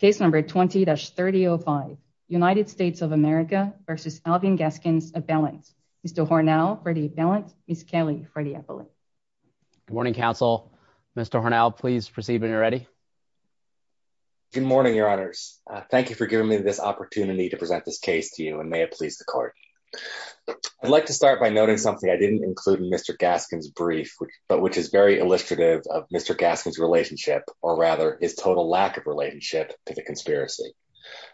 case number 20-3005 united states of america versus alvin gaskins a balance mr hornell for the balance miss kelly for the appellate good morning counsel mr hornell please proceed when you're ready good morning your honors thank you for giving me this opportunity to present this case to you and may it please the court i'd like to start by noting something i didn't include in mr gaskins brief but which is very illustrative of mr gaskins relationship or rather his total lack of relationship to the conspiracy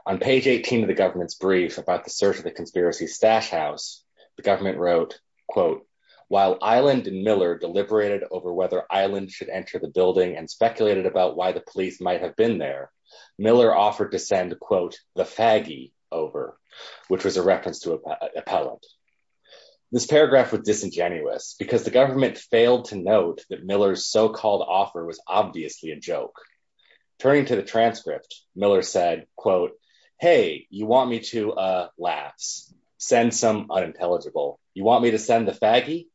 on page 18 of the government's brief about the search of the conspiracy stash house the government wrote quote while island and miller deliberated over whether island should enter the building and speculated about why the police might have been there miller offered to send quote the faggy over which was a reference to a appellant this paragraph was disingenuous because the government failed to note that miller's so-called offer was obviously a joke turning to the transcript miller said quote hey you want me to uh laughs send some unintelligible you want me to send the faggy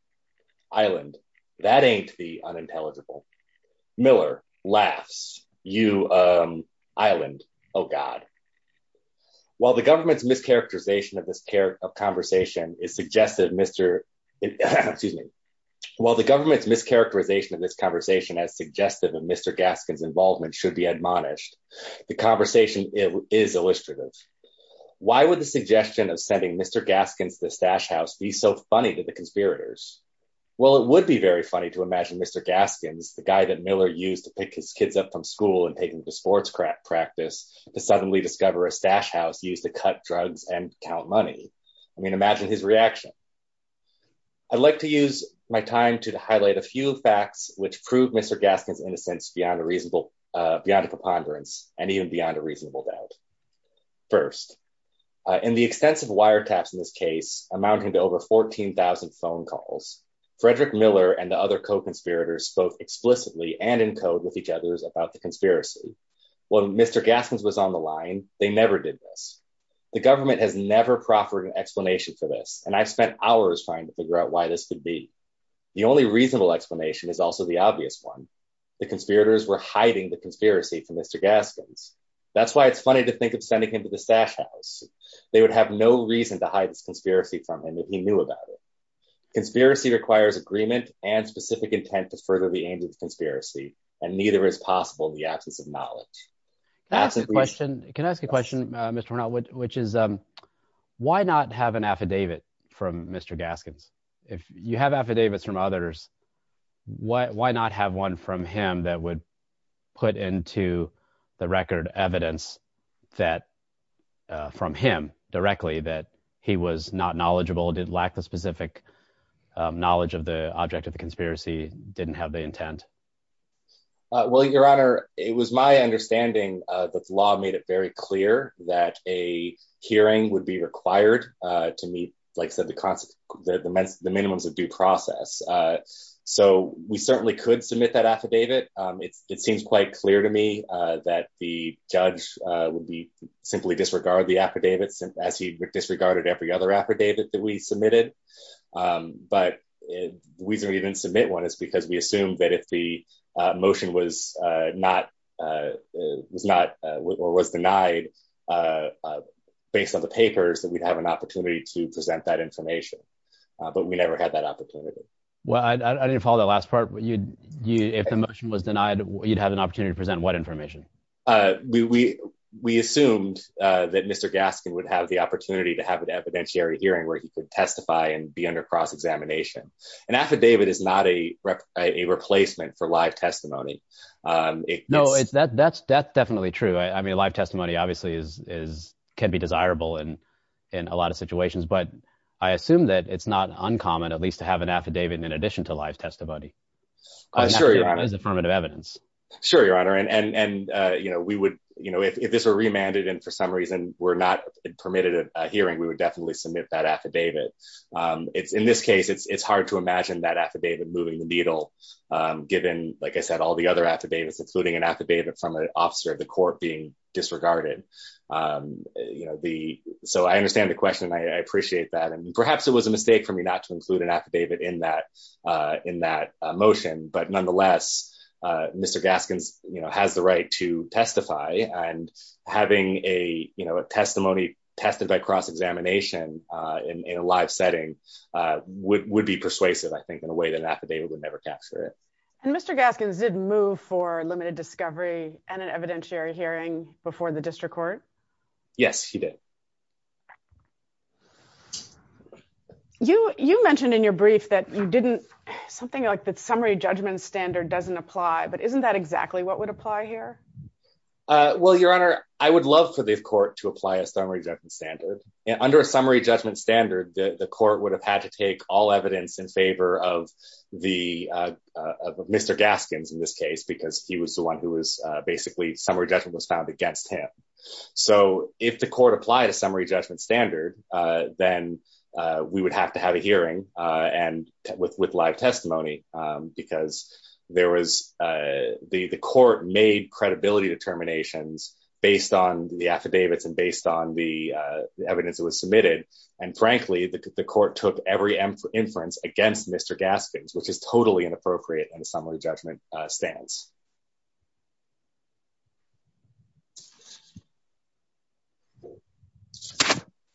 island that ain't the unintelligible miller laughs you um island oh god while the government's mischaracterization of this care of conversation is suggestive mr excuse me while the government's mischaracterization of this conversation as suggestive of mr gaskins involvement should be admonished the conversation is illustrative why would the suggestion of sending mr gaskins the stash house be so funny to the conspirators well it would be very funny to imagine mr gaskins the guy that miller used to pick his kids up from school and take him to sports practice to suddenly discover a stash house used to cut drugs and count money i mean imagine his reaction i'd like to use my time to highlight a few facts which prove mr gaskins innocence beyond a reasonable uh beyond a preponderance and even beyond a reasonable doubt first in the extensive wiretaps in this case amounting to over 14 000 phone calls frederick miller and the other co-conspirators spoke explicitly and in code with each other about the conspiracy when mr gaskins was on the line they never did this the government has never proffered an explanation for this and i've spent hours trying to figure out why this could be the only reasonable explanation is also the obvious one the conspirators were hiding the conspiracy from mr gaskins that's why it's funny to think of sending him to the stash house they would have no reason to hide this conspiracy from him if he knew about it conspiracy requires agreement and specific intent to further the aims of the conspiracy and neither is possible in the absence of knowledge can i ask a question can i ask a from others what why not have one from him that would put into the record evidence that from him directly that he was not knowledgeable did lack the specific knowledge of the object of the conspiracy didn't have the intent well your honor it was my understanding uh that the law made it very clear that a hearing would be required uh to meet like the concept that the men's the minimums of due process uh so we certainly could submit that affidavit um it seems quite clear to me uh that the judge uh would be simply disregard the affidavits as he disregarded every other affidavit that we submitted um but the reason we didn't submit one is because we assumed that if the motion was uh not uh was not or was denied uh based on the papers that we'd have an opportunity to present that information but we never had that opportunity well i didn't follow the last part but you'd you if the motion was denied you'd have an opportunity to present what information uh we we assumed uh that mr gaskin would have the opportunity to have an evidentiary hearing where he could testify and be under cross examination an affidavit is not a a replacement for live testimony um no it's that that's that's is can be desirable and in a lot of situations but i assume that it's not uncommon at least to have an affidavit in addition to live testimony affirmative evidence sure your honor and and uh you know we would you know if this were remanded and for some reason we're not permitted a hearing we would definitely submit that affidavit um it's in this case it's it's hard to imagine that affidavit moving the needle um given like i said all the other affidavits including an affidavit from an officer of the court being disregarded um you know the so i understand the question i appreciate that and perhaps it was a mistake for me not to include an affidavit in that uh in that motion but nonetheless uh mr gaskins you know has the right to testify and having a you know a testimony tested by cross examination uh in a live setting uh would would be persuasive i think in a way that an affidavit would never capture it and mr gaskins did move for limited discovery and an evidentiary hearing before the district court yes he did you you mentioned in your brief that you didn't something like the summary judgment standard doesn't apply but isn't that exactly what would apply here uh well your honor i would love for this court to apply a summary judgment standard and under a summary judgment standard the court would have had to take all evidence in favor of the uh mr gaskins in this case because he was the one who was uh basically summary judgment was found against him so if the court applied a summary judgment standard uh then uh we would have to have a hearing uh and with with live testimony um because there was uh the the court made credibility determinations based on the affidavits and based on the uh the evidence that was submitted and frankly the court took every inference against mr gaskins which is totally inappropriate in a summary judgment stance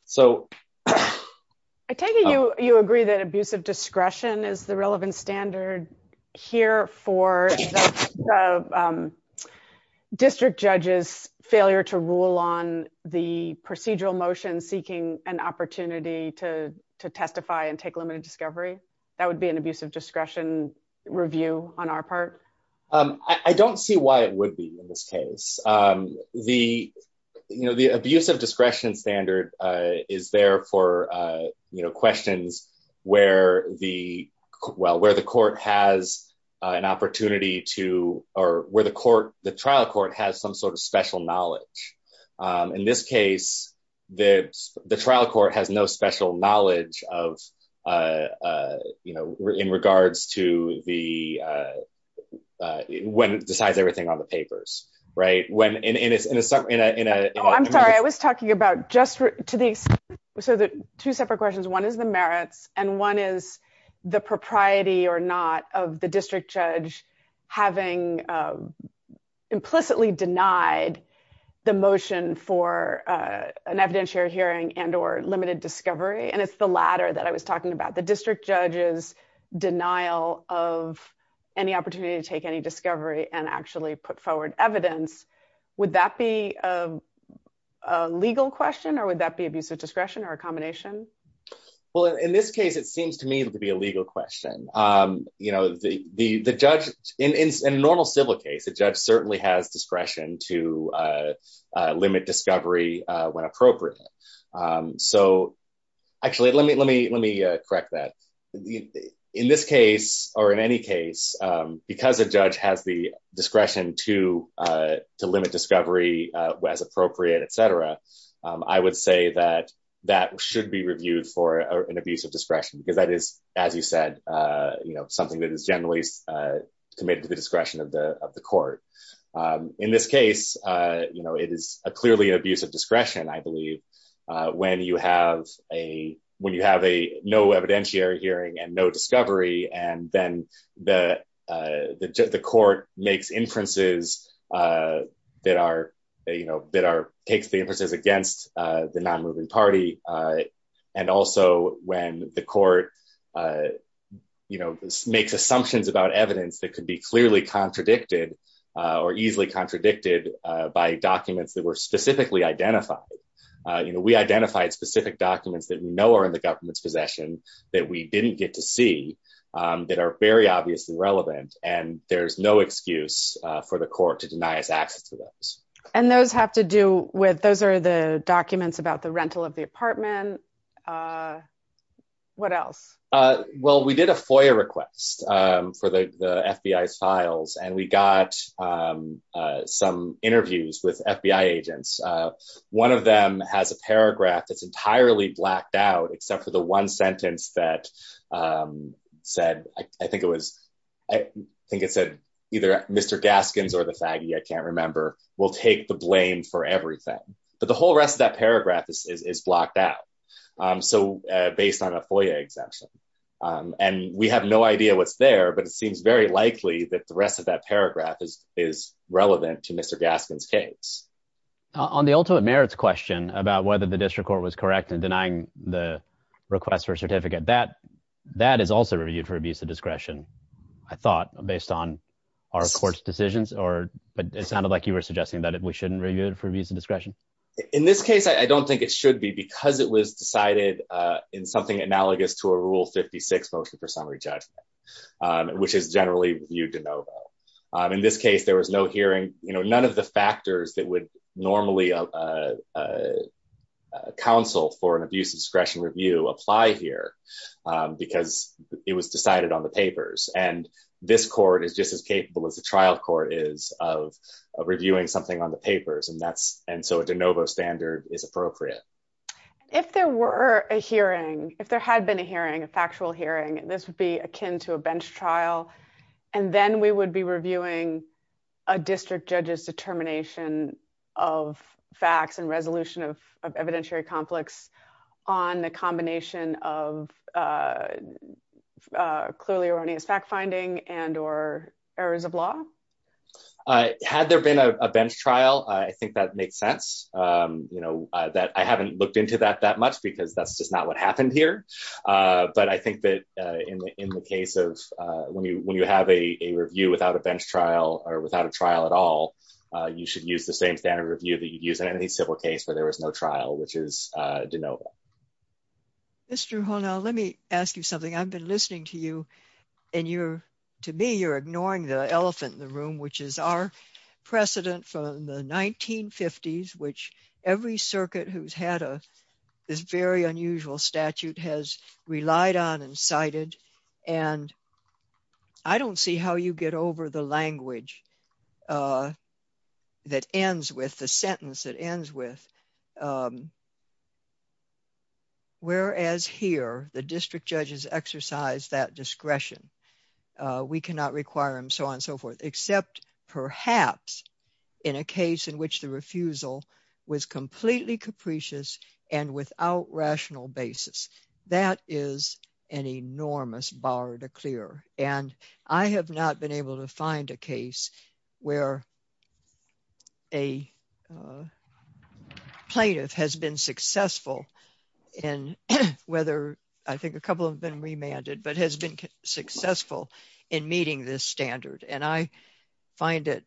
so i take it you you agree that abusive discretion is the relevant standard here for district judges failure to rule on the procedural motion seeking an opportunity to to testify and um i don't see why it would be in this case um the you know the abusive discretion standard uh is there for uh you know questions where the well where the court has an opportunity to or where the court the trial court has some sort of special knowledge um in this case the the trial court has no special knowledge of uh uh you know in regards to the uh when it decides everything on the papers right when in in a in a in a i'm sorry i was talking about just to the so the two separate questions one is the merits and one is the propriety or not of the district judge having uh implicitly denied the motion for uh an evidentiary hearing and or limited discovery and it's the latter that i was talking about the district judge's denial of any opportunity to take any discovery and actually put forward evidence would that be a legal question or would that be abusive discretion or a combination well in this case it seems to me to be a legal question um you know the the the judge in in a normal civil case a judge certainly has discretion to uh limit discovery uh when appropriate um so actually let me let me let me correct that in this case or in any case um because a judge has the discretion to uh to limit discovery uh as appropriate etc i would say that that should be reviewed for an abuse of discretion because that is as you said uh you know something that is generally uh committed to the discretion of the of the court um in this case uh you know it is a clearly an abuse of discretion i believe when you have a when you have a no evidentiary hearing and no discovery and then the uh the court makes inferences uh that are you know that are takes the inferences against uh the non-moving party uh and also when the court uh you know makes assumptions about evidence that could be clearly contradicted uh or easily contradicted uh by documents that were specifically identified uh you know we identified specific documents that we know are in the government's possession that we didn't get to see um that are very obviously relevant and there's no excuse uh for the court to deny us access to those and those have to do with those are the documents about the rental of the apartment uh what else uh well we did a foyer request um for the the fbi's files and we got um uh some interviews with fbi agents uh one of them has a paragraph that's entirely blacked out except for the one sentence that um said i think it was i think it said either mr gaskins or the faggy i can't remember we'll take the blame for everything but the whole rest of that paragraph is is blocked out um so uh based on a foyer exemption um and we have no idea what's there but it seems very likely that the rest of that paragraph is is relevant to mr gaskins case on the ultimate merits question about whether the district court was correct in denying the request for a certificate that that is also reviewed for abuse of discretion i thought based on our court's decisions or but it sounded like you were suggesting that we shouldn't review it in this case i don't think it should be because it was decided uh in something analogous to a rule 56 motion for summary judgment um which is generally reviewed de novo um in this case there was no hearing you know none of the factors that would normally uh uh uh counsel for an abuse of discretion review apply here um because it was decided on the papers and this court is just as and so a de novo standard is appropriate if there were a hearing if there had been a hearing a factual hearing this would be akin to a bench trial and then we would be reviewing a district judge's determination of facts and resolution of evidentiary conflicts on the combination of uh clearly erroneous fact finding and or errors of law uh had there been a bench trial i think that makes sense um you know that i haven't looked into that that much because that's just not what happened here uh but i think that uh in the in the case of uh when you when you have a review without a bench trial or without a trial at all uh you should use the same standard review that you'd use in any civil case where there was no trial which is uh de novo mr hono let me ask you something i've been listening to you and you're to me you're ignoring the elephant in the 1950s which every circuit who's had a this very unusual statute has relied on and cited and i don't see how you get over the language uh that ends with the sentence that ends with um whereas here the district judges exercise that discretion we cannot require them so on so forth except perhaps in a case in which the refusal was completely capricious and without rational basis that is an enormous bar to clear and i have not been able to find a case where a plaintiff has been successful in whether i think a couple have been remanded but has been successful in meeting this standard and i find it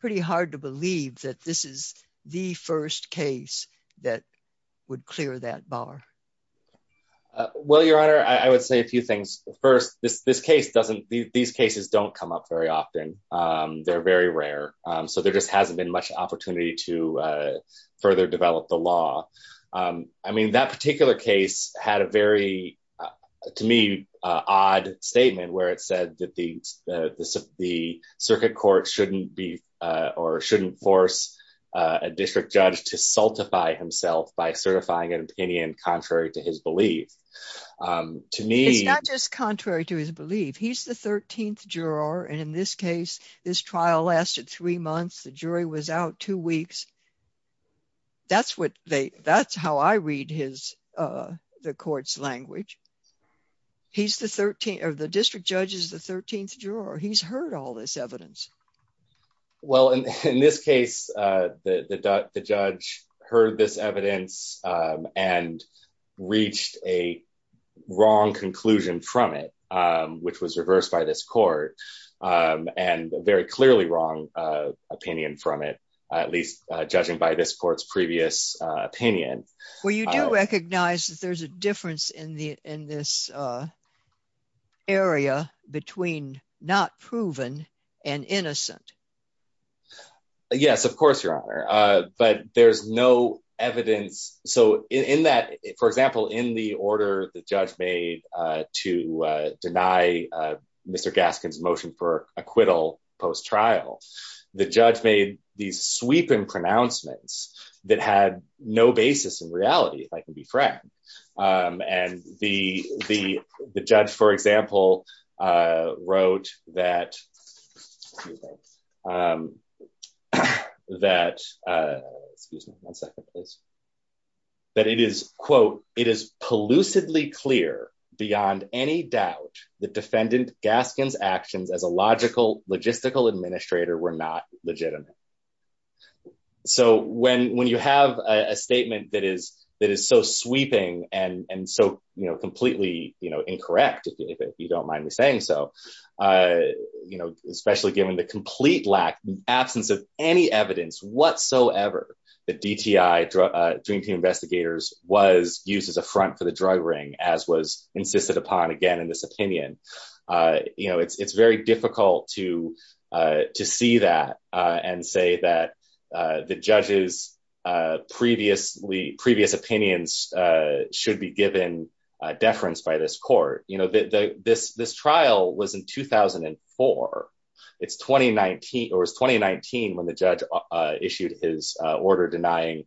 pretty hard to believe that this is the first case that would clear that bar well your honor i would say a few things first this this case doesn't these cases don't come up very often um they're very rare um so there just hasn't been much opportunity to further develop the law um i mean that particular case had a very to me odd statement where it said that the the circuit court shouldn't be uh or shouldn't force a district judge to sultify himself by certifying an opinion contrary to his belief um to me it's not just contrary to his belief he's the 13th juror and in this case this trial lasted three months the jury was out two weeks that's what they that's how i read his uh the court's language he's the 13th of the district judge is the 13th juror he's heard all this evidence well in this case uh the the judge heard this evidence um and reached a wrong conclusion from it um which was reversed by this um and a very clearly wrong uh opinion from it at least uh judging by this court's previous uh opinion well you do recognize that there's a difference in the in this uh area between not proven and innocent yes of course your honor uh but there's no evidence so in that for example in the order the judge made uh to uh deny uh mr gaskin's motion for acquittal post trial the judge made these sweeping pronouncements that had no basis in reality if i can be frank um and the the the judge for example uh wrote that excuse me um that uh excuse me one that it is quote it is pollutedly clear beyond any doubt the defendant gaskins actions as a logical logistical administrator were not legitimate so when when you have a statement that is that is so sweeping and and so you know completely you know incorrect if you don't mind me saying so uh you know especially given the complete lack absence of any evidence whatsoever the dti dream team investigators was used as a front for the drug ring as was insisted upon again in this opinion uh you know it's it's very difficult to uh to see that uh and say that the judge's uh previously previous opinions uh should be given a deference by this court you this this trial was in 2004 it's 2019 or was 2019 when the judge uh issued his uh order denying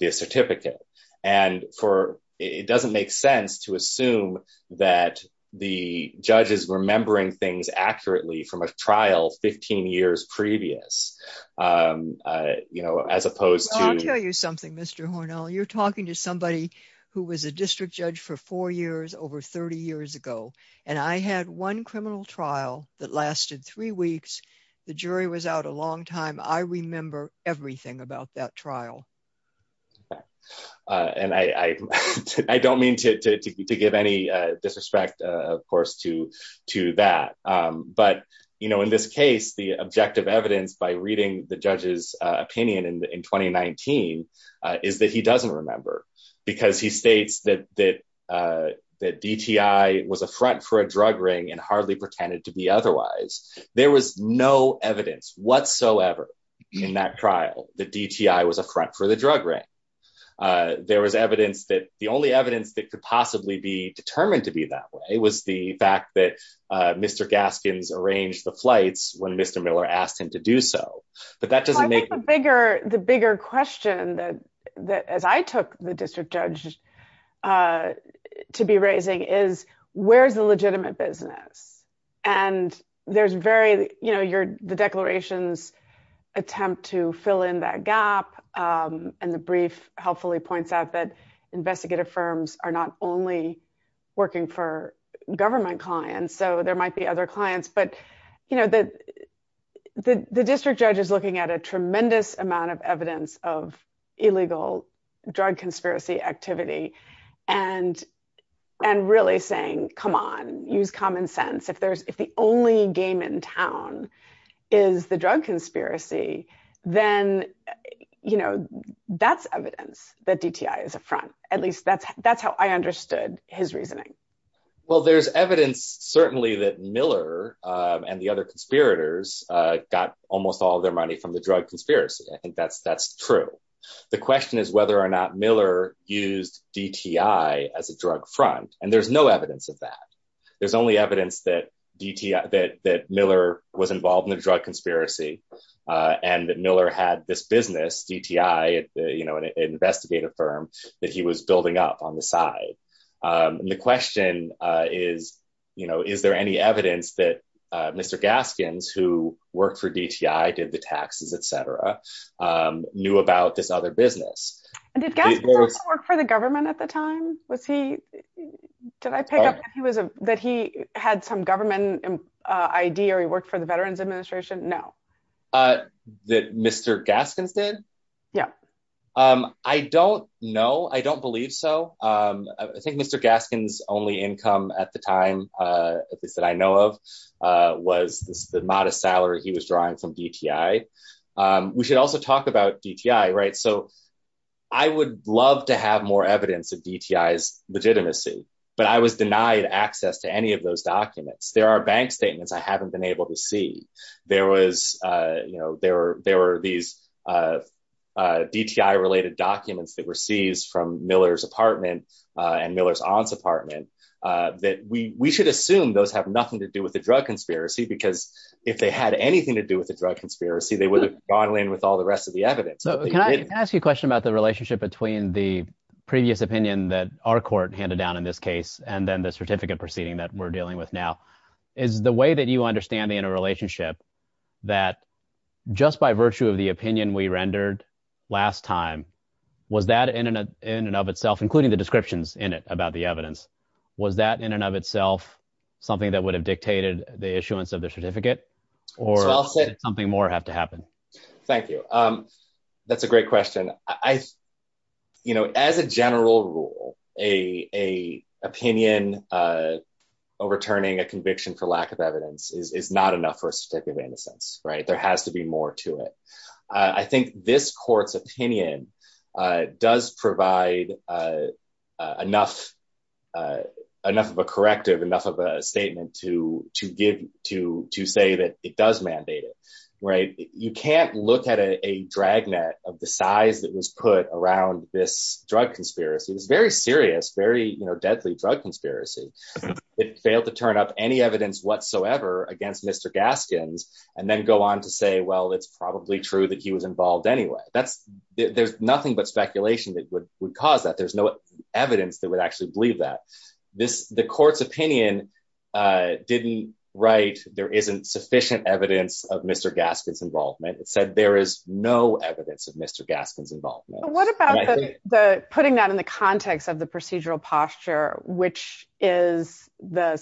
the certificate and for it doesn't make sense to assume that the judge is remembering things accurately from a trial 15 years previous um uh you know as opposed to i'll tell you something mr hornell you're talking to somebody who was a district judge for four years over 30 years ago and i had one criminal trial that lasted three weeks the jury was out a long time i remember everything about that trial uh and i i i don't mean to to give any uh disrespect uh of course to to that um but you know in this case the objective evidence by reading the judge's uh opinion in in 2019 uh is that he doesn't remember because he states that that uh that dti was a front for a drug ring and hardly pretended to be otherwise there was no evidence whatsoever in that trial the dti was a front for the drug ring uh there was evidence that the only evidence that could possibly be determined to be that way was the fact that uh mr gaskins arranged the flights when the bigger question that that as i took the district judge uh to be raising is where's the legitimate business and there's very you know your the declarations attempt to fill in that gap um and the brief helpfully points out that investigative firms are not only working for government clients so there might be other clients but you know that the the district judge is looking at a tremendous amount of evidence of illegal drug conspiracy activity and and really saying come on use common sense if there's if the only game in town is the drug conspiracy then you know that's evidence that dti is a front at least that's that's how i understood his reasoning well there's evidence certainly that miller and the other conspirators uh got almost all their money from the drug conspiracy i think that's that's true the question is whether or not miller used dti as a drug front and there's no evidence of that there's only evidence that dti that that miller was involved in the drug conspiracy and that miller had this business dti you know an investigative firm that he was building up on um and the question uh is you know is there any evidence that uh mr gaskins who worked for dti did the taxes etc um knew about this other business and did gas work for the government at the time was he did i pick up he was a that he had some government uh id or he worked for the veterans administration no uh that mr gaskins did yeah um i don't know i don't believe so i think mr gaskins only income at the time uh at least that i know of uh was the modest salary he was drawing from dti um we should also talk about dti right so i would love to have more evidence of dti's legitimacy but i was denied access to any of those documents there are bank statements i haven't been able to see there was uh you know there were there were these uh dti related documents that were seized from miller's apartment uh and miller's aunt's apartment uh that we we should assume those have nothing to do with the drug conspiracy because if they had anything to do with the drug conspiracy they would have gone in with all the rest of the evidence so can i ask you a question about the relationship between the previous opinion that our court handed down in this case and then the certificate proceeding that we're dealing with now is the way that you understand in a relationship that just by virtue of the opinion we rendered last time was that in an in and of itself including the descriptions in it about the evidence was that in and of itself something that would have dictated the issuance of the certificate or something more have to happen thank you um that's a great question i you know as a general rule a a opinion uh overturning a conviction for lack of evidence is is not enough for a certificate of innocence right there has to be more to it i think this court's opinion uh does provide uh enough uh enough of a corrective enough of a statement to to give to to say that it does mandate it right you can't look at a drag net of the size that was put around this drug conspiracy it's very serious very you know deadly drug conspiracy it failed to turn up any evidence whatsoever against mr gaskins and then go on to say well it's probably true that he was involved anyway that's there's nothing but speculation that would would cause that there's no evidence that would actually believe that this the court's opinion uh didn't write there isn't sufficient evidence of mr gaskin's involvement it said there is no evidence of mr gaskin's involvement what about the putting that in the context of the procedural posture which is the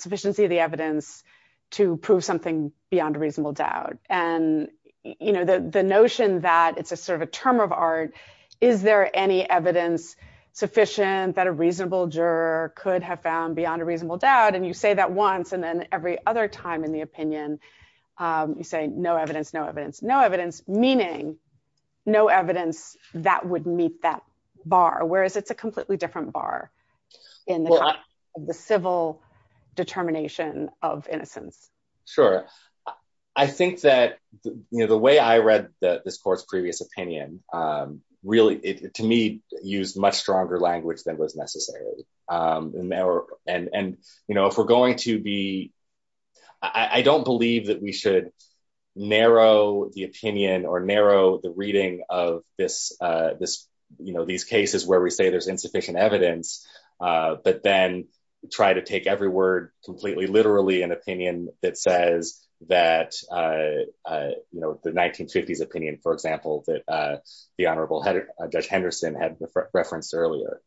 to prove something beyond a reasonable doubt and you know the the notion that it's a sort of a term of art is there any evidence sufficient that a reasonable juror could have found beyond a reasonable doubt and you say that once and then every other time in the opinion um you say no evidence no evidence no evidence meaning no evidence that would meet that bar whereas it's a completely different bar in the civil determination of innocence sure i think that you know the way i read the this court's previous opinion um really it to me used much stronger language than was necessary um and there and and you know if we're going to be i i don't believe that we should narrow the opinion or narrow the reading of this uh this you know these cases where we say there's insufficient evidence uh but then try to take every word completely literally an opinion that says that uh you know the 1950s opinion for example that uh the honorable judge henderson had referenced earlier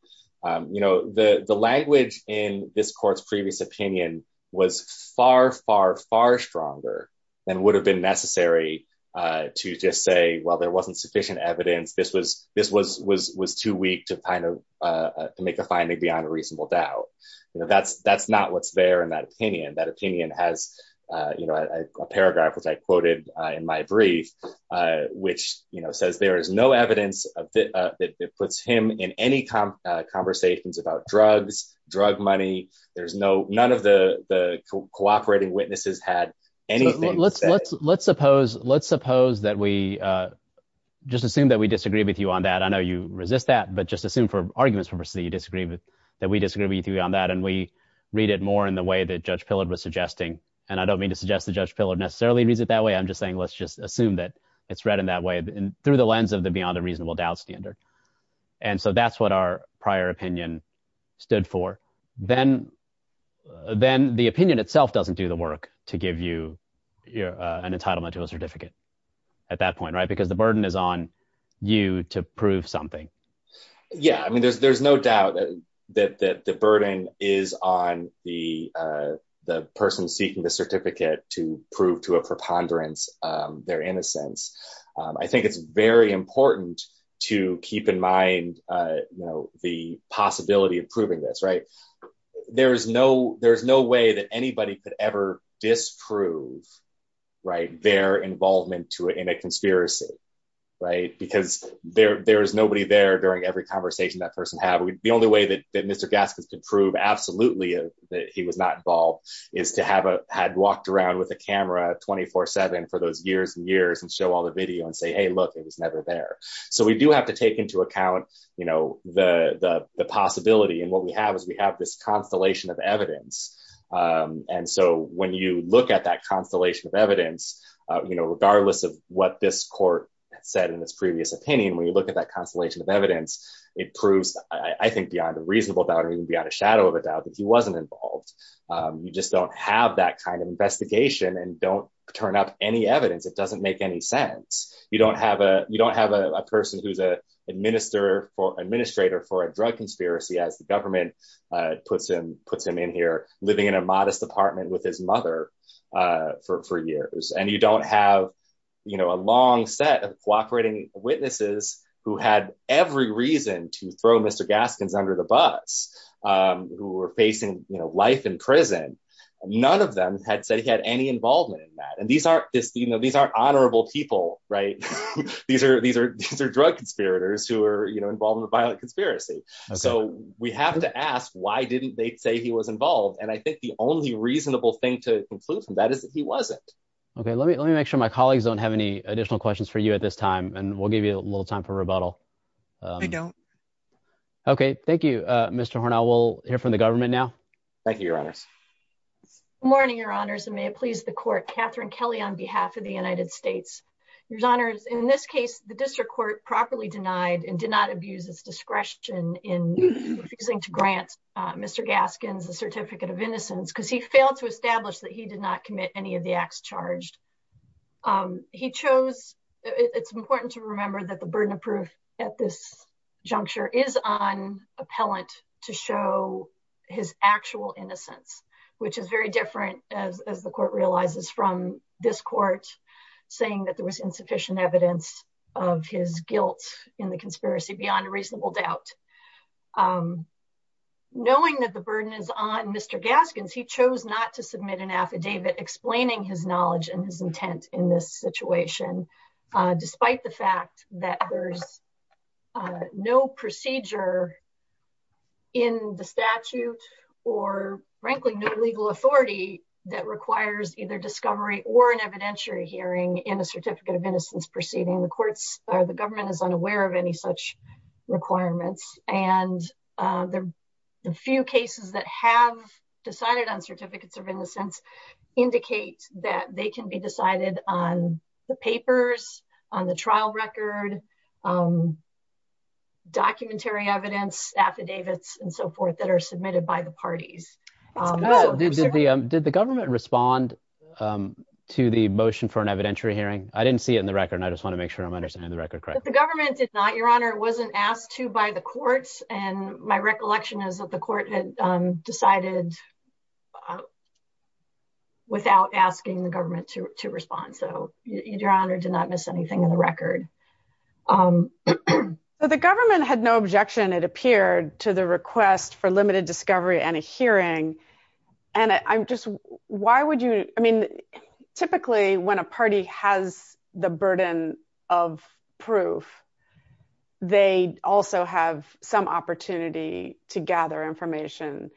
um you know the the language in this court's previous opinion was far far far stronger than would have been necessary uh to just say well there wasn't sufficient evidence this was this was was was too weak to kind of uh to make a finding beyond a reasonable doubt you know that's that's not what's there in that opinion that opinion has uh you know a paragraph which i quoted uh in my brief uh which you know says there is no evidence of it uh that puts him in any conversations about drugs drug money there's no none of the the cooperating witnesses had anything let's let's let's suppose let's suppose that we uh just assume that we disagree with you on that i know you resist that but just assume for arguments purposes that you disagree with that we disagree with you on that and we read it more in the way that judge pillard was suggesting and i don't mean to suggest that judge pillard necessarily reads it that way i'm just saying let's just assume that it's read in that way and through the lens of the beyond the reasonable doubt standard and so that's what our prior opinion stood for then then the opinion itself doesn't do the work to give you an entitlement to a certificate at that point right because the burden is on you to prove something yeah i mean there's there's no doubt that that the burden is on the uh the person seeking the certificate to prove to a preponderance um their innocence i think it's very important to keep in you know the possibility of proving this right there is no there's no way that anybody could ever disprove right their involvement to in a conspiracy right because there there's nobody there during every conversation that person had the only way that that mr gaskins could prove absolutely that he was not involved is to have a had walked around with a camera 24-7 for those years and years and show all the video and say hey look it was never there so we do have to take into account you know the the possibility and what we have is we have this constellation of evidence um and so when you look at that constellation of evidence uh you know regardless of what this court said in its previous opinion when you look at that constellation of evidence it proves i think beyond a reasonable doubt or even beyond a shadow of a doubt that he wasn't involved um you just don't have that kind of investigation and don't turn up any evidence it doesn't make any sense you don't have a you don't have a person who's a minister for administrator for a drug conspiracy as the government uh puts him puts him in here living in a modest apartment with his mother uh for for years and you don't have you know a long set of cooperating witnesses who had every reason to throw mr gaskins under the bus um who were facing you know life in prison none of them had said he had any involvement in that and these aren't this you know these are honorable people right these are these are these are drug conspirators who are you know involved in the violent conspiracy so we have to ask why didn't they say he was involved and i think the only reasonable thing to conclude from that is that he wasn't okay let me let me make sure my colleagues don't have any additional questions for you at this time and we'll give you a little time for rebuttal i don't okay thank you uh mr hornell we'll hear from the government now thank you your honors morning your honors and may it please the court katherine kelly on behalf of the united states your honors in this case the district court properly denied and did not abuse its discretion in refusing to grant uh mr gaskins a certificate of innocence because he failed to establish that he did not commit any of the acts charged um he chose it's important to remember that the burden of proof at this juncture is on appellant to show his actual innocence which is very different as as the court realizes from this court saying that there was insufficient evidence of his guilt in the conspiracy beyond a reasonable doubt um knowing that the burden is on mr gaskins he chose not to submit an affidavit explaining his knowledge and his intent in this situation despite the fact that there's no procedure in the statute or frankly no legal authority that requires either discovery or an evidentiary hearing in a certificate of innocence proceeding the courts are the government is unaware of any such requirements and the few cases that have decided on certificates of innocence indicate that they can be decided on the papers on the trial record um documentary evidence affidavits and so forth that are submitted by the parties um did the um did the government respond um to the motion for an evidentiary hearing i didn't see it in the record i just want to make sure i'm understanding the record correct the government did not your honor wasn't asked to by the courts and my recollection is that the court had um decided without asking the government to to respond so your honor did not miss anything in the record um so the government had no objection it appeared to the request for limited discovery and a hearing and i'm just why would you i mean typically when a party has the burden of proof they also have some opportunity to gather information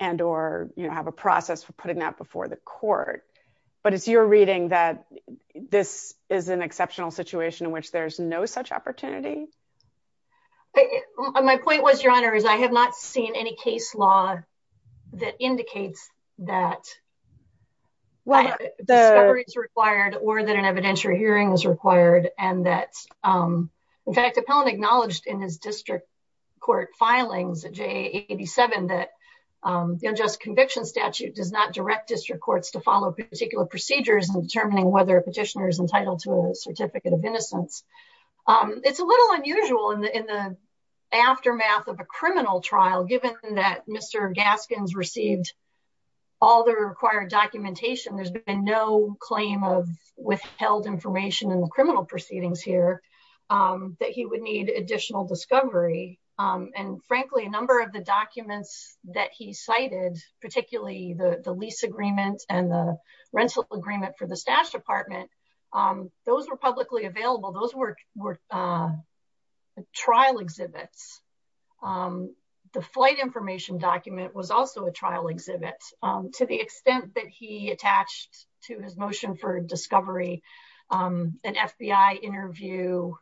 and or you know have a process for putting that before the court but it's your reading that this is an exceptional situation in which there's no such opportunity my point was your honor is i have not seen any case law that indicates that well the discovery is required or that an evidentiary hearing is um in fact appellant acknowledged in his district court filings at j87 that um the unjust conviction statute does not direct district courts to follow particular procedures in determining whether a petitioner is entitled to a certificate of innocence um it's a little unusual in the in the aftermath of a criminal trial given that mr gaskins received all the required documentation there's been no claim of withheld information in the criminal proceedings here um that he would need additional discovery um and frankly a number of the documents that he cited particularly the the lease agreement and the rental agreement for the staff department um those were publicly available those were were uh trial exhibits um the flight information document was also a trial exhibit um to the extent that he attached to his motion for discovery um an fbi interview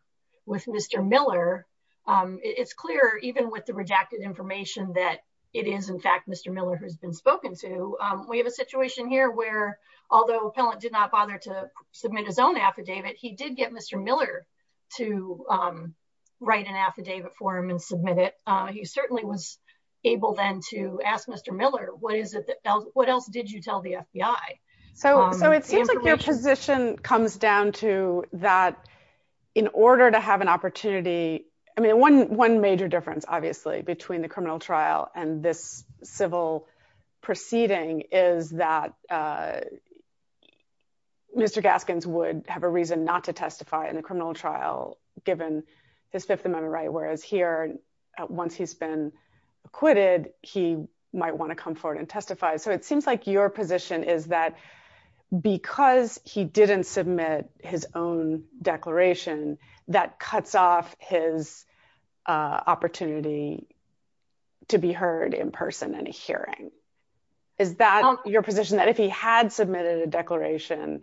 with mr miller um it's clear even with the rejected information that it is in fact mr miller who's been spoken to um we have a situation here where although appellant did not bother to submit his own affidavit he did get mr miller to um write an affidavit for him and submit it he certainly was able then to ask mr miller what is it what else did you tell the fbi so so it seems like your position comes down to that in order to have an opportunity i mean one one major difference obviously between the criminal trial and this civil proceeding is that uh mr gaskins would have a reason not to testify in the criminal trial given his fifth amendment right whereas here once he's been acquitted he might want to come forward and testify so it seems like your position is that because he didn't submit his own declaration that cuts off his uh opportunity to be heard in person in a hearing is that your position that if he had submitted a declaration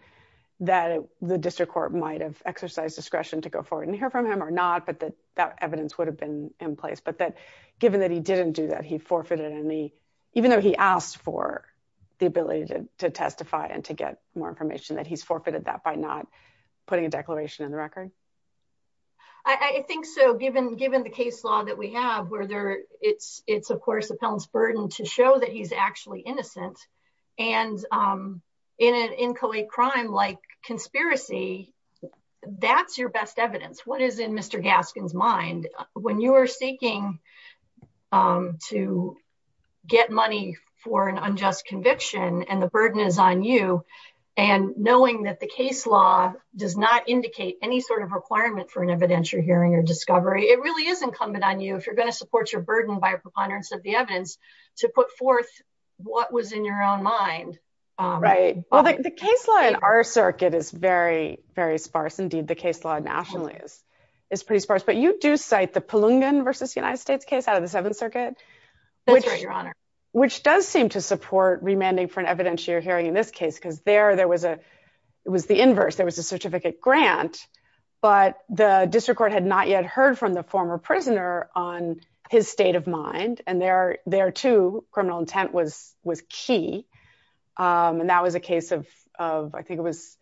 that the district court might have exercised discretion to go forward and hear from him or not but that that evidence would have been in place but that given that he didn't do that he forfeited and he even though he asked for the ability to testify and to get more information that he's forfeited that by not putting a declaration in the record i i think so given given the case law that we have where there it's it's of course appellant's burden to show that he's actually innocent and um in an inchoate crime like conspiracy that's your best evidence what is in mr gaskin's mind when you are seeking um to get money for an unjust conviction and the burden is on you and knowing that the case law does not indicate any sort of requirement for an evidentiary hearing or discovery it really is incumbent on you if you're going to support your burden by preponderance of the evidence to put forth what was in your own mind right well the case law in our circuit is very very sparse indeed the case law nationally is is pretty sparse but you do cite the palungan versus united states case out of the seventh circuit that's right your honor which does seem to support remanding for an evidentiary hearing in this case because there there was a it was the inverse there was a certificate grant but the district court had not yet heard from the former prisoner on his state of mind and there too criminal intent was was key and that was a case of of i think it was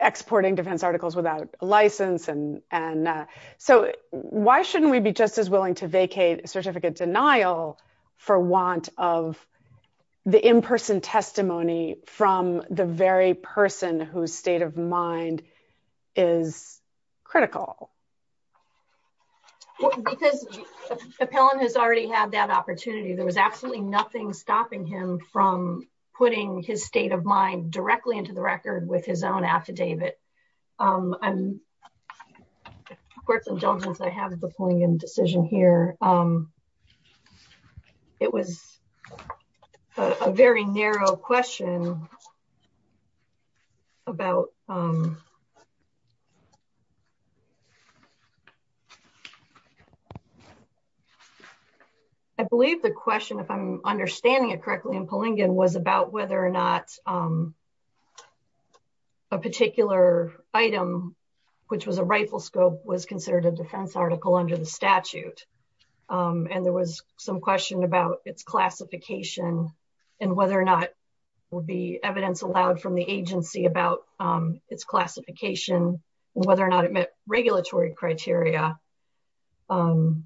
exporting defense articles without license and and so why shouldn't we be just as willing to vacate certificate denial for want of the in-person testimony from the very person whose state of mind is critical because appellant has already had that opportunity there was absolutely nothing stopping him from putting his state of mind directly into the record with his own affidavit um i'm of course indulgence i have the pulling in decision here um it was a very narrow question about um i believe the question if i'm understanding it correctly in palungan was about whether or not a particular item which was a rifle scope was considered a defense article under the statute um and there was some question about its classification and whether or not would be evidence allowed from the agency about its classification whether or not it met regulatory criteria um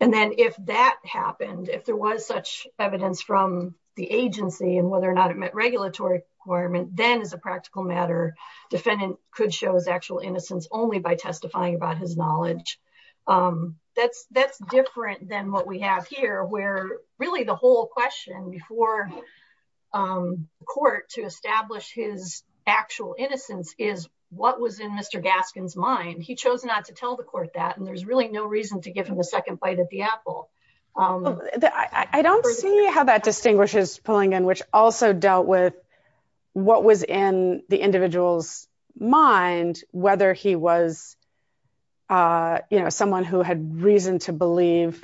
and then if that happened if there was such evidence from the agency and whether or not it met regulatory requirement then as a practical matter defendant could show his actual only by testifying about his knowledge um that's that's different than what we have here where really the whole question before um court to establish his actual innocence is what was in mr gaskin's mind he chose not to tell the court that and there's really no reason to give him a second bite at the apple um i don't see how that distinguishes pulling in which also dealt with what was in the individual's mind whether he was uh you know someone who had reason to believe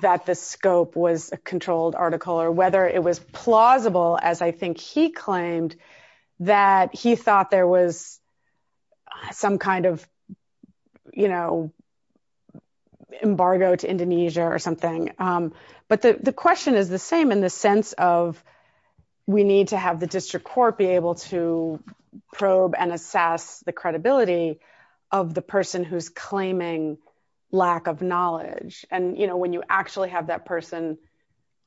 that the scope was a controlled article or whether it was plausible as i think he claimed that he thought there was some kind of you know embargo to indonesia or something um but the question is the same in the sense of we need to have the district court be able to probe and assess the credibility of the person who's claiming lack of knowledge and you know when you actually have that person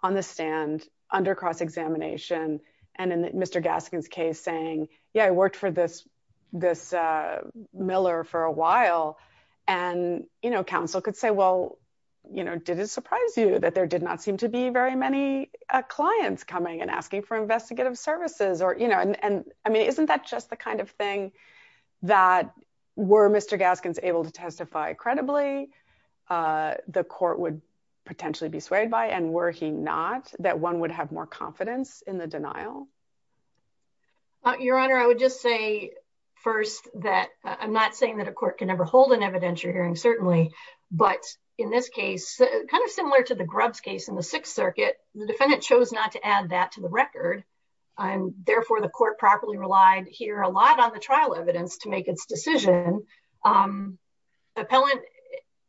on the stand under cross-examination and in mr gaskin's case saying yeah i worked for this this uh miller for a while and you know council could say well you know did surprise you that there did not seem to be very many clients coming and asking for investigative services or you know and i mean isn't that just the kind of thing that were mr gaskins able to testify credibly uh the court would potentially be swayed by and were he not that one would have more confidence in the denial your honor i would just say first that i'm not saying that a court can ever hold an evidentiary hearing certainly but in this case kind of similar to the grub's case in the sixth circuit the defendant chose not to add that to the record and therefore the court properly relied here a lot on the trial evidence to make its decision um appellant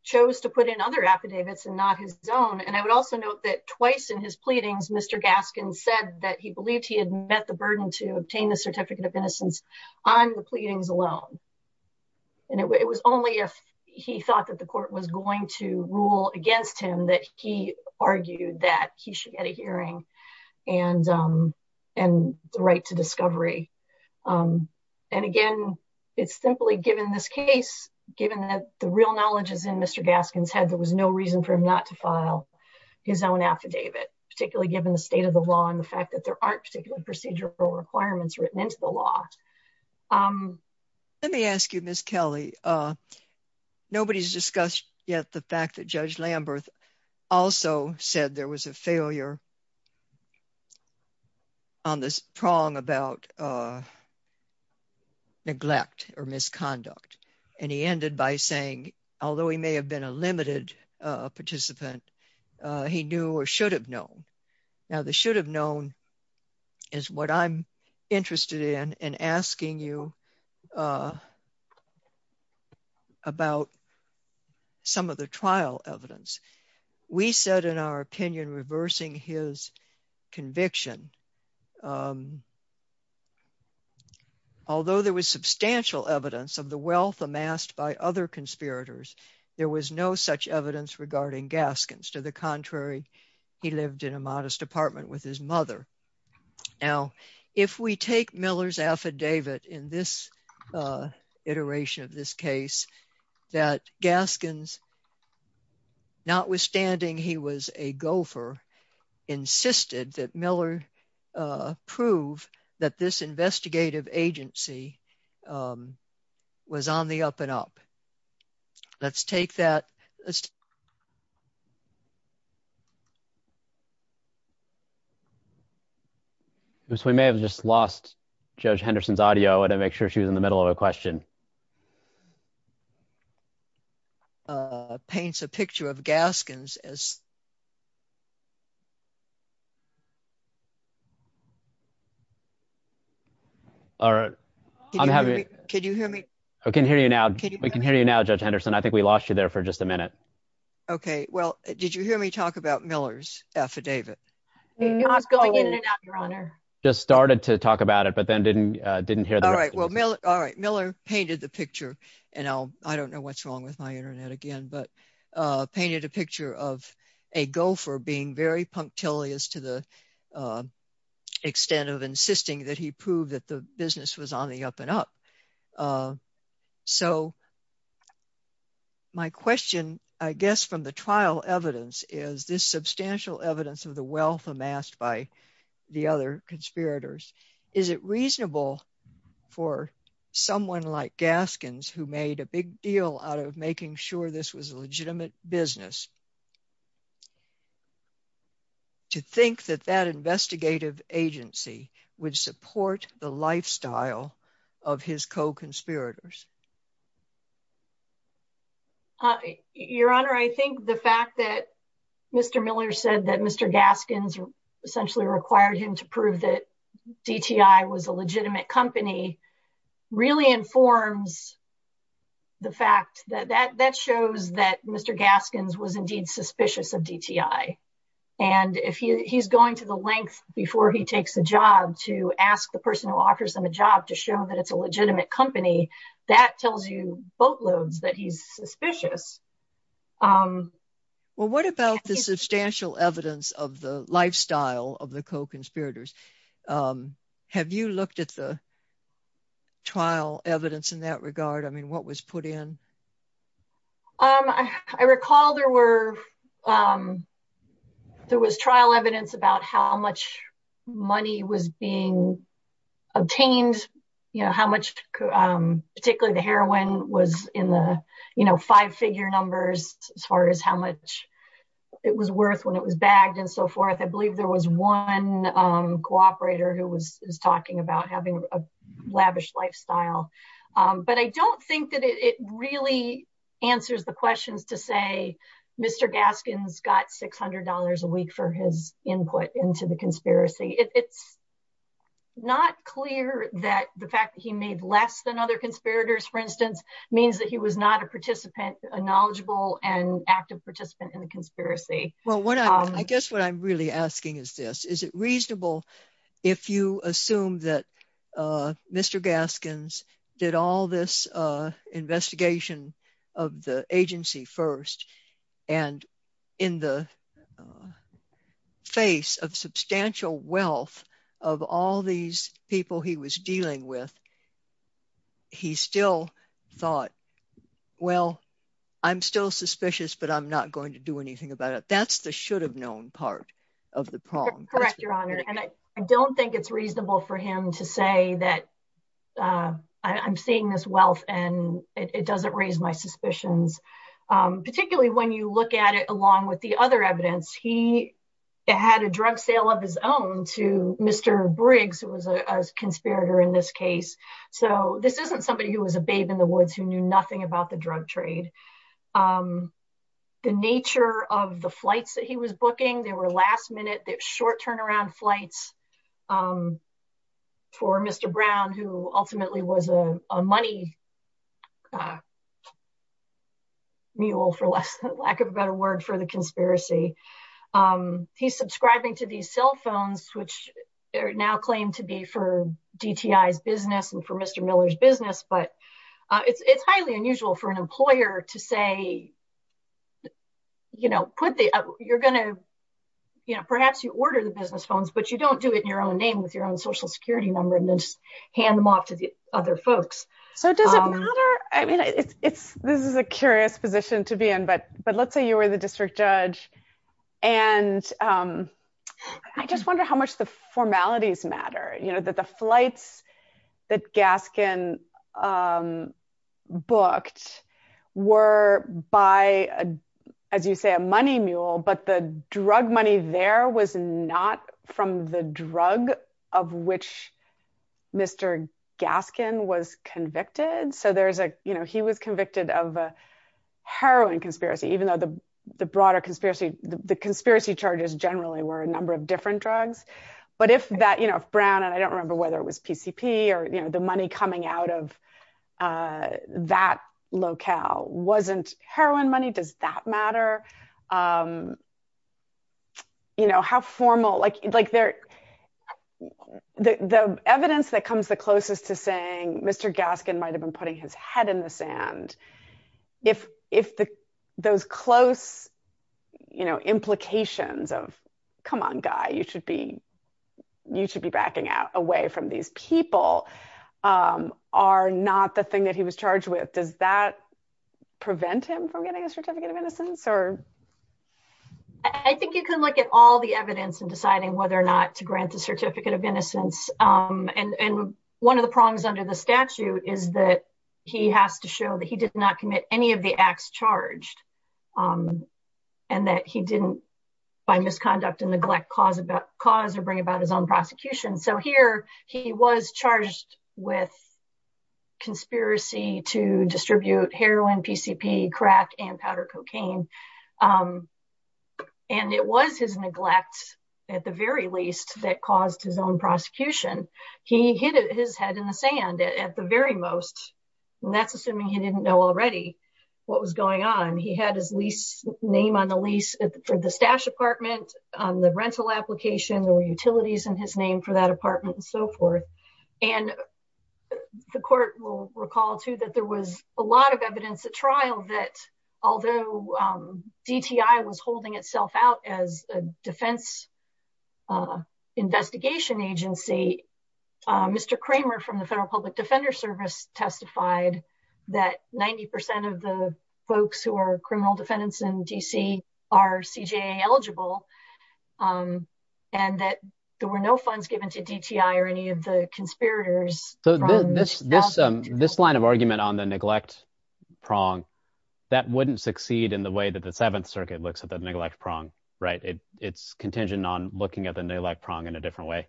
chose to put in other affidavits and not his own and i would also note that twice in his pleadings mr gaskin said that he believed he had met the burden to obtain the certificate of innocence on the he thought that the court was going to rule against him that he argued that he should get a hearing and um and the right to discovery um and again it's simply given this case given that the real knowledge is in mr gaskin's head there was no reason for him not to file his own affidavit particularly given the state of the law and the fact that there aren't particular procedural requirements written into the law um let me ask you miss kelly uh nobody's discussed yet the fact that judge lamberth also said there was a failure on this prong about uh neglect or misconduct and he ended by saying although he may have been a interested in and asking you uh about some of the trial evidence we said in our opinion reversing his conviction although there was substantial evidence of the wealth amassed by other conspirators there was no such evidence regarding gaskins to the contrary he lived in a modest apartment with his mother now if we take miller's affidavit in this uh iteration of this case that gaskins notwithstanding he was a gopher insisted that miller uh prove that this investigative agency um was on the up and up let's take that so we may have just lost judge henderson's audio i want to make sure she was in the middle of a question uh paints a picture of gaskins as all right i'm happy can you hear me i can hear you now we can hear you now judge henderson i think we lost you there for just a minute okay well did you hear me talk about miller's affidavit your honor just started to talk about it but then didn't uh didn't hear all right well mill all right miller painted the picture and i'll i don't know what's wrong with my internet again but uh painted a picture of a gopher being very punctilious to the extent of insisting that he proved that the business was on the up and up uh so my question i guess from the trial evidence is this substantial evidence of the wealth amassed by the other conspirators is it reasonable for someone like gaskins who made a big deal out of making sure this was a legitimate business to think that that investigative agency would support the lifestyle of his co-conspirators uh your honor i think the fact that mr miller said that mr gaskins essentially required him to prove that dti was a legitimate company really informs the fact that that that shows that mr gaskins was indeed suspicious of dti and if he he's going to the length before he takes a job to ask the person who offers them a job to show that it's a legitimate company that tells you boatloads that he's suspicious um well what about the substantial evidence of the lifestyle of the co-conspirators um have you looked at the trial evidence in that regard i mean what was put in um i recall there were um there was trial evidence about how much money was being obtained you know how much um particularly the heroin was in the you know five figure numbers as far as how much it was worth when it was bagged and so forth i believe there was one um cooperator who was talking about having a lavish lifestyle um but i don't think that it really answers the questions to say mr gaskins got six hundred dollars a week for his input into the conspiracy it's not clear that the fact that he made less than other conspirators for instance means that he was not a participant a knowledgeable and active participant in the conspiracy well what i guess what i'm really asking is this is it reasonable if you assume that uh mr gaskins did all this uh investigation of the agency first and in the face of substantial wealth of all these people he was dealing with he still thought well i'm still suspicious but i'm not going to do anything about it that's the should have known part of the correct your honor and i don't think it's reasonable for him to say that uh i'm seeing this wealth and it doesn't raise my suspicions um particularly when you look at it along with the other evidence he had a drug sale of his own to mr briggs who was a conspirator in this case so this isn't somebody who was a babe in the woods who knew nothing about the drug trade um the nature of the flights that he was booking they were last minute they're short turnaround flights um for mr brown who ultimately was a money mule for less lack of a better word for the conspiracy um he's subscribing to these cell phones which are now claimed to be for dti's business and for mr miller's business but uh it's it's highly unusual for an employer to say you know put the you're gonna you know perhaps you order the business phones but you don't do it in your own name with your own social security number and then just hand them off to the other folks so does it matter i mean it's it's this is a curious position to be in but but let's say you were the district judge and um i just wonder how much the formalities matter you know that the booked were by a as you say a money mule but the drug money there was not from the drug of which mr gaskin was convicted so there's a you know he was convicted of a heroin conspiracy even though the the broader conspiracy the conspiracy charges generally were a number of different drugs but if that you know if brown and i don't remember whether it was pcp or the money coming out of uh that locale wasn't heroin money does that matter um you know how formal like like they're the the evidence that comes the closest to saying mr gaskin might have been putting his head in the sand if if the those close you know implications of come on guy you should be you should be backing out away from these people are not the thing that he was charged with does that prevent him from getting a certificate of innocence or i think you can look at all the evidence and deciding whether or not to grant the certificate of innocence um and and one of the problems under the statute is that he has to show that he did not commit any of the acts charged um and that he didn't by misconduct and neglect cause about cause or bring about his own prosecution so here he was charged with conspiracy to distribute heroin pcp crack and powder cocaine um and it was his neglect at the very least that caused his own prosecution he hit his head in the sand at the very most that's assuming he didn't know already what was going on he had his lease name on the lease for the stash apartment on the rental application there were utilities in his name for that apartment and so forth and the court will recall too that there was a lot of evidence at trial that although um dti was holding itself out as a defense uh investigation agency uh mr kramer from the federal public defender service testified that 90 of the folks who are criminal defendants in dc are cja eligible um and that there were no funds given to dti or any of the conspirators so this this um this line of argument on the neglect prong that wouldn't succeed in the way that the seventh circuit looks at the neglect prong right it it's contingent on looking at the neglect prong in a different way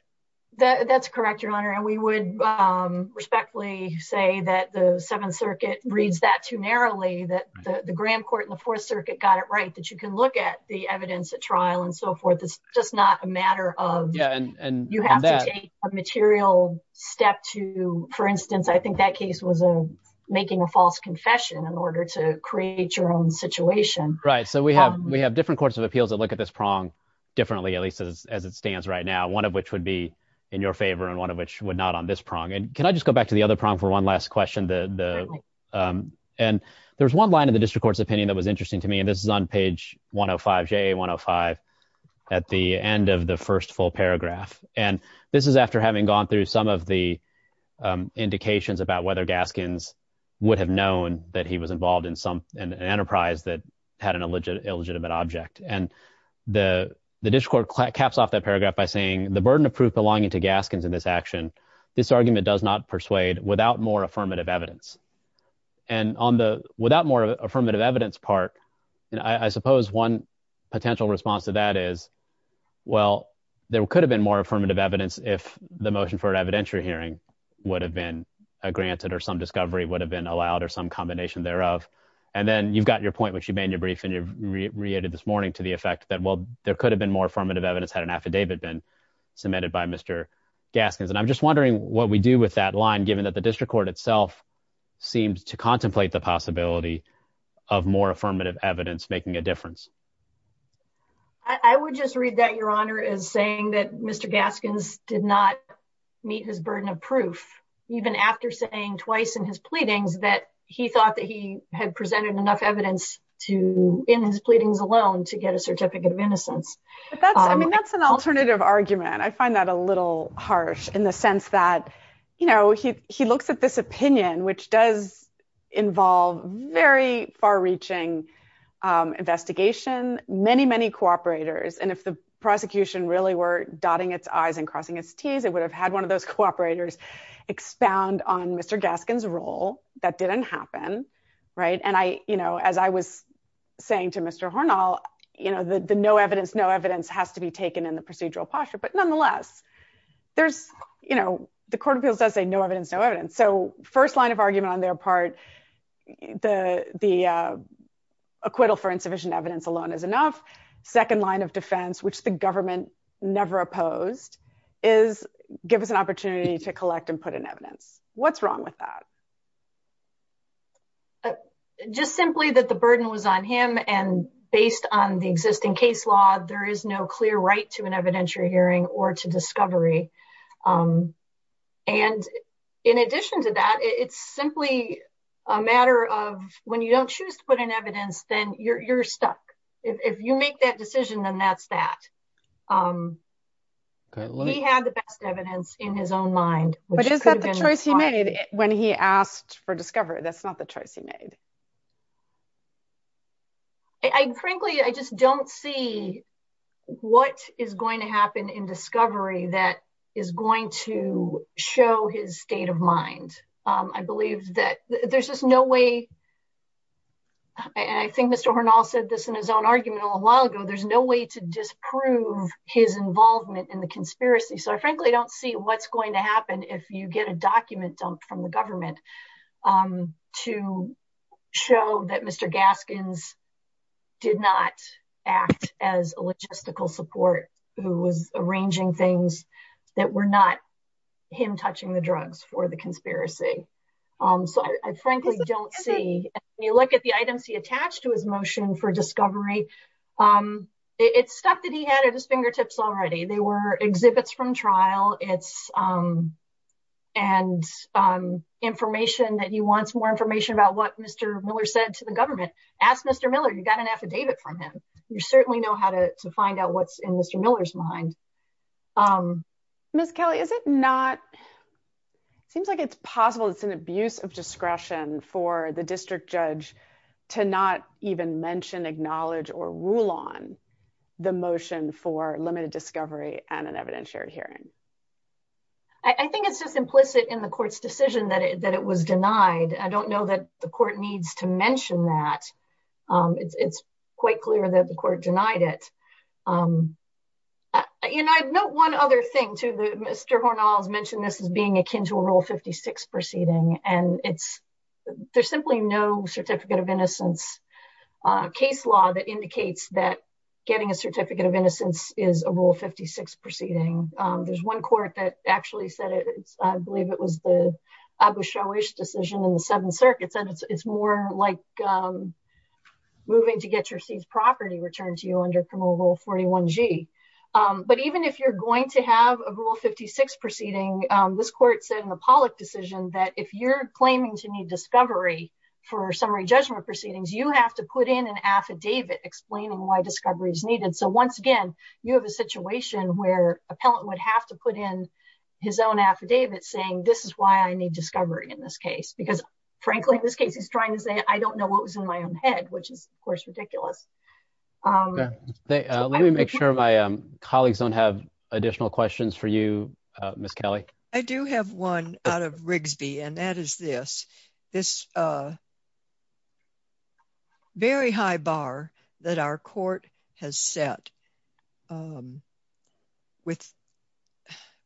that that's correct your honor and we would um respectfully say that the seventh circuit reads that too narrowly that the the graham court in the fourth circuit got it right that you can look at the evidence at trial and so forth it's just not a matter of yeah and you have to take a material step to for instance i think that case was a making a false confession in order to create your own situation right so we have we have different courts of appeals that look at this prong differently at least as it stands right now one of which would be in your favor and one of which would not on this prong and can i just go to the other prong for one last question the the um and there's one line of the district court's opinion that was interesting to me and this is on page 105 ja 105 at the end of the first full paragraph and this is after having gone through some of the um indications about whether gaskins would have known that he was involved in some an enterprise that had an illegitimate object and the the district court caps off that paragraph by saying the burden of proof belonging to gaskins in this action this argument does not persuade without more affirmative evidence and on the without more affirmative evidence part and i suppose one potential response to that is well there could have been more affirmative evidence if the motion for an evidentiary hearing would have been granted or some discovery would have been allowed or some combination thereof and then you've got your point which you made in your brief and you've reiterated this morning to the effect that well there could have been more affirmative evidence had an affidavit been submitted by mr gaskins and i'm just wondering what we do with that line given that the district court itself seems to contemplate the possibility of more affirmative evidence making a difference i would just read that your honor is saying that mr gaskins did not meet his burden of proof even after saying twice in his pleadings that he thought that he had presented enough evidence to in his pleadings alone to get a certificate of innocence but that's i mean that's an alternative argument i find that a little harsh in the sense that you know he he looks at this opinion which does involve very far-reaching um investigation many many cooperators and if the prosecution really were dotting its i's and crossing its t's it would have had one of those cooperators expound on mr gaskins role that didn't happen right and i you know as i was saying to mr hornell you know the no evidence no evidence has to be taken in the procedural posture but nonetheless there's you know the court of appeals does say no evidence no evidence so first line of argument on their part the the acquittal for insufficient evidence alone is enough second line of defense which the government never opposed is give us an opportunity to collect and put in evidence what's wrong with that just simply that the burden was on him and based on the existing case law there is no clear right to an evidentiary hearing or to discovery um and in addition to that it's simply a matter of when you don't choose to put in evidence then you're you're stuck if you make that decision then that's that um he had the best evidence in his own mind but is that the choice he made when he asked for discovery that's not the choice he made i frankly i just don't see what is going to happen in discovery that is going to show his state of mind um i believe that there's just no way i think mr hornell said this in his own argument a little while ago there's no way to disprove his involvement in the conspiracy so i frankly don't see what's going to happen if you get a show that mr gaskins did not act as a logistical support who was arranging things that were not him touching the drugs for the conspiracy um so i frankly don't see when you look at the items he attached to his motion for discovery um it's stuff that he had at his fingertips already they were mr miller said to the government ask mr miller you got an affidavit from him you certainly know how to to find out what's in mr miller's mind um miss kelly is it not seems like it's possible it's an abuse of discretion for the district judge to not even mention acknowledge or rule on the motion for limited discovery and an evidentiary hearing i think it's just implicit in the court's decision that it that it was denied i don't know that the court needs to mention that um it's it's quite clear that the court denied it um and i'd note one other thing to the mr hornell's mentioned this as being akin to a rule 56 proceeding and it's there's simply no certificate of innocence uh case law that indicates that getting a certificate of innocence is a rule proceeding um there's one court that actually said it i believe it was the abu showish decision in the seventh circuit said it's more like um moving to get your seized property returned to you under criminal rule 41g um but even if you're going to have a rule 56 proceeding um this court said in the pollock decision that if you're claiming to need discovery for summary judgment proceedings you have to put in an affidavit explaining why discovery is needed so once again you have a situation where appellant would have to put in his own affidavit saying this is why i need discovery in this case because frankly in this case he's trying to say i don't know what was in my own head which is of course ridiculous um let me make sure my colleagues don't have additional questions for you uh miss kelly i do have one out of rigsby and that is this this uh very high bar that our court has set um with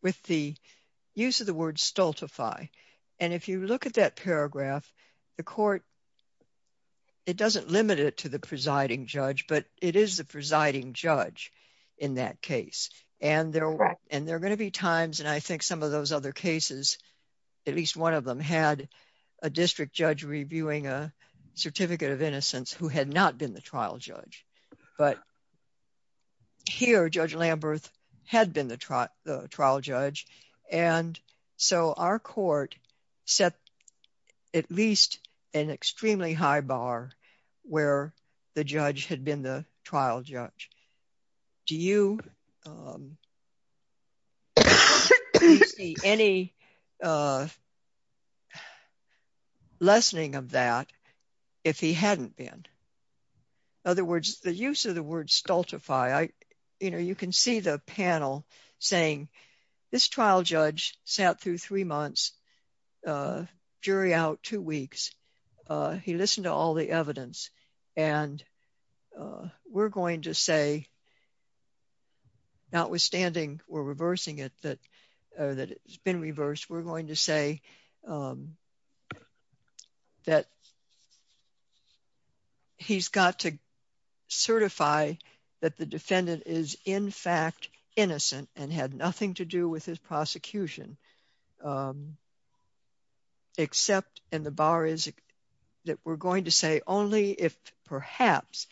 with the use of the word stultify and if you look at that paragraph the court it doesn't limit it to the presiding judge but it is the presiding judge in that case and there and there are going to be times and i think some of those other cases at least one of them had a district judge reviewing a certificate of innocence who had not been the trial judge but here judge lamberth had been the trial judge and so our court set at least an extremely high bar where the judge had been the trial judge do you um any uh lessening of that if he hadn't been in other words the use of the word stultify i you know you can see the panel saying this trial judge sat through three months uh jury out two weeks uh he listened to all the evidence and uh we're going to say notwithstanding we're reversing it that that it's been reversed we're going to say that he's got to certify that the defendant is in fact innocent and had nothing to do with his prosecution um except and the bar is that we're going to say only if perhaps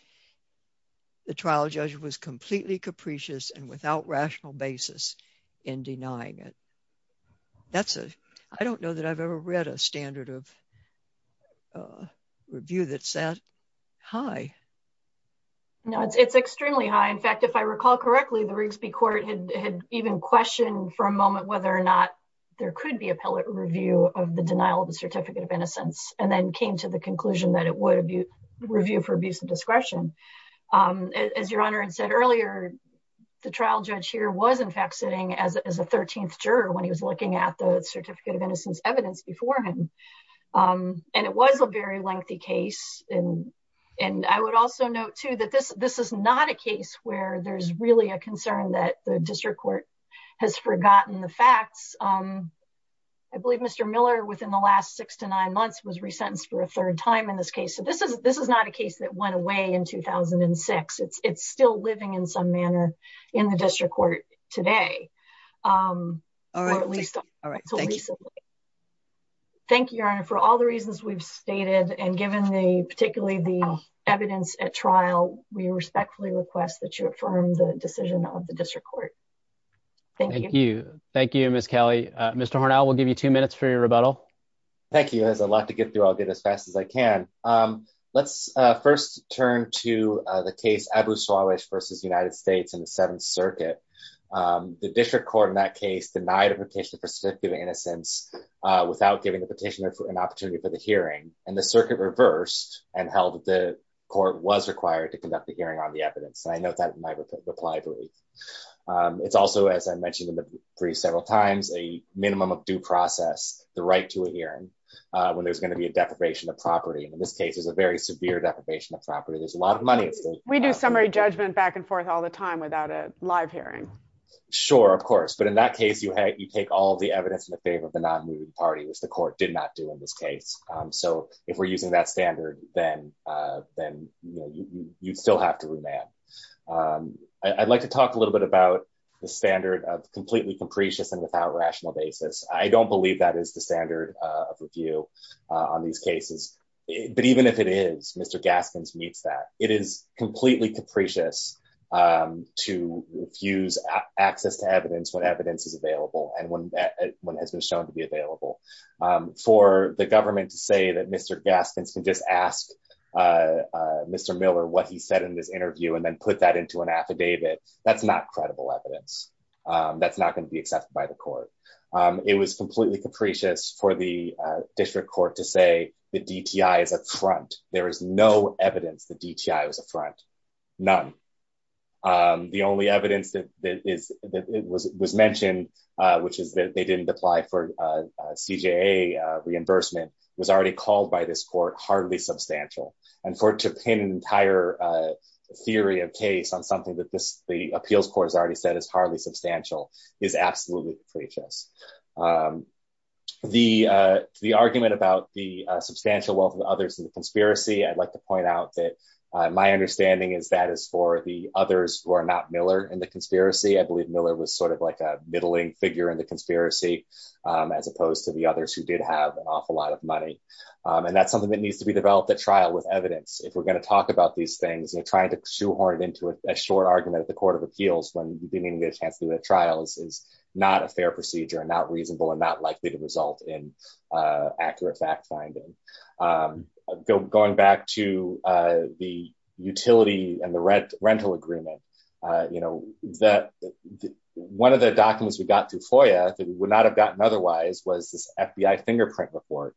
the trial judge was completely capricious and without rational basis in denying it that's a i don't know that i've ever read a standard of uh review that's that high no it's extremely high in fact if i recall correctly the rigsby court had even questioned for a moment whether or not there could be a pilot review of the denial of the certificate of innocence and then came to the conclusion that it would review for abuse of discretion um as your honor had said earlier the trial judge here was in fact sitting as a 13th juror when he was looking at the certificate of innocence evidence before him um and it was a very lengthy case and and i would also note too that this this is not a case where there's really a concern that the district court has forgotten the facts um i believe mr miller within the last six to nine months was resentenced for a third time in this case so this is this is not a case that went away in 2006 it's it's still living in some manner in the district court today um thank you your honor for all the reasons we've stated and given the particularly the evidence at trial we respectfully request that you affirm the decision of the district court thank you thank you miss kelly uh mr hornell we'll give you two minutes for your rebuttal thank you there's a lot to get through i'll get as fast as i can um let's uh first turn to uh the case abu swalwish versus united states in the seventh circuit um the district court in that case denied a petition for certificate of innocence uh without giving the petitioner an opportunity for the hearing and the circuit reversed and held the court was required to conduct the hearing on the evidence and i note that in my reply brief um it's also as i mentioned in the brief several times a minimum of due process the right to a hearing uh when there's going to be a deprivation of property in this case there's a very severe deprivation of property there's a lot of money we do summary judgment back and forth all the time without a live hearing sure of course but in that case you had you take all the evidence in the favor of the non-moving party which the court did not do in this case um so if we're using that standard then uh then you know you you'd still have to remand um i'd like to talk a little bit about the standard of completely capricious and without rational basis i don't believe that is the standard of review on these cases but even if it is mr gaskins meets that it is completely capricious um to refuse access to um for the government to say that mr gaskins can just ask uh uh mr miller what he said in this interview and then put that into an affidavit that's not credible evidence um that's not going to be accepted by the court um it was completely capricious for the uh district court to say the dti is a front there is no evidence the dti was a front none um the only evidence that is that was mentioned uh which is that they didn't apply for uh cja reimbursement was already called by this court hardly substantial and for to pin an entire uh theory of case on something that this the appeals court has already said is hardly substantial is absolutely capricious um the uh the argument about the substantial wealth of others in the conspiracy i'd like to point out that uh my understanding is that is for the others who are not miller in the conspiracy i believe miller was sort of like a middling figure in the conspiracy um as opposed to the others who did have an awful lot of money um and that's something that needs to be developed at trial with evidence if we're going to talk about these things you're trying to shoehorn it into a short argument at the court of appeals when you didn't get a chance to do the trials is not a fair procedure and not reasonable and not likely to result in uh accurate fact finding um going back to uh the utility and rental agreement uh you know that one of the documents we got through foia that we would not have gotten otherwise was this fbi fingerprint report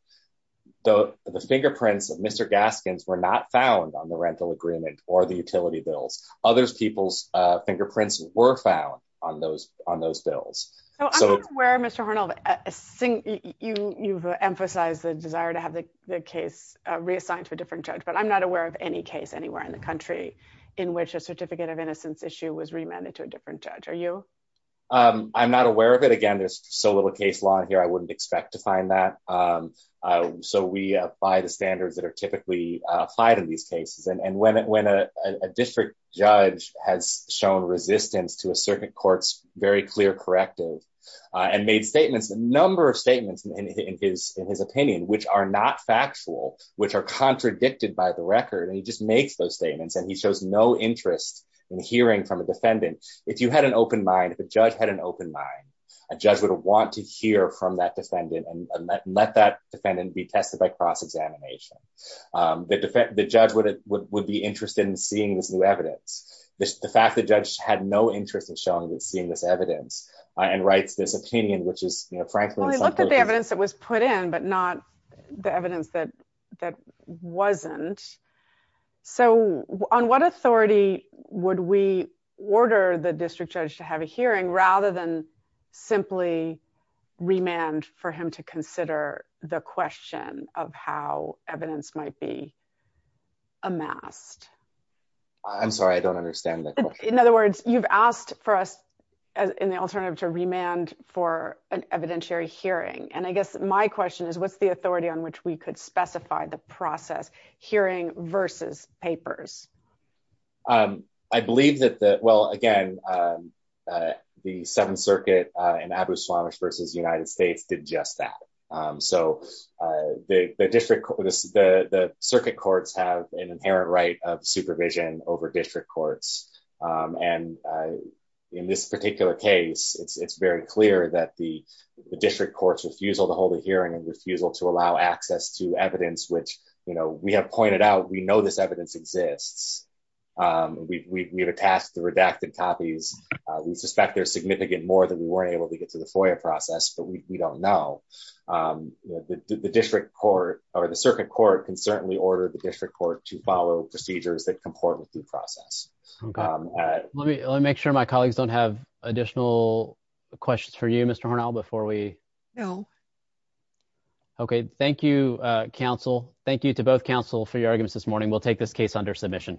though the fingerprints of mr gaskins were not found on the rental agreement or the utility bills others people's uh fingerprints were found on those on those bills so i'm not aware mr hornell i think you you've emphasized the desire to have the the case uh reassigned to a different judge but i'm not aware of any case anywhere in country in which a certificate of innocence issue was remanded to a different judge are you um i'm not aware of it again there's so little case law here i wouldn't expect to find that um so we uh by the standards that are typically applied in these cases and when when a district judge has shown resistance to a certain court's very clear corrective uh and made statements a number of statements in his in his opinion which are not factual which are contradicted by the and he shows no interest in hearing from a defendant if you had an open mind if a judge had an open mind a judge would want to hear from that defendant and let that defendant be tested by cross-examination um the defense the judge would it would be interested in seeing this new evidence the fact the judge had no interest in showing that seeing this evidence and writes this opinion which is you know frankly the evidence that was put in but not the evidence that that wasn't so on what authority would we order the district judge to have a hearing rather than simply remand for him to consider the question of how evidence might be amassed i'm sorry i don't understand the question in other words you've asked for us in the alternative to remand for an evidentiary hearing and i guess my question is what's the hearing versus papers um i believe that the well again um uh the seventh circuit uh and abu swamish versus united states did just that um so uh the the district the the circuit courts have an inherent right of supervision over district courts um and uh in this particular case it's it's very clear that the district courts refusal to hold a hearing and refusal to allow access to pointed out we know this evidence exists um we we've attached the redacted copies we suspect there's significant more than we were able to get to the FOIA process but we don't know um the district court or the circuit court can certainly order the district court to follow procedures that comport with due process okay let me let me make sure my colleagues don't have additional questions for you mr hornell before we know okay thank you uh council thank you to both council for your arguments this morning we'll take this case under submission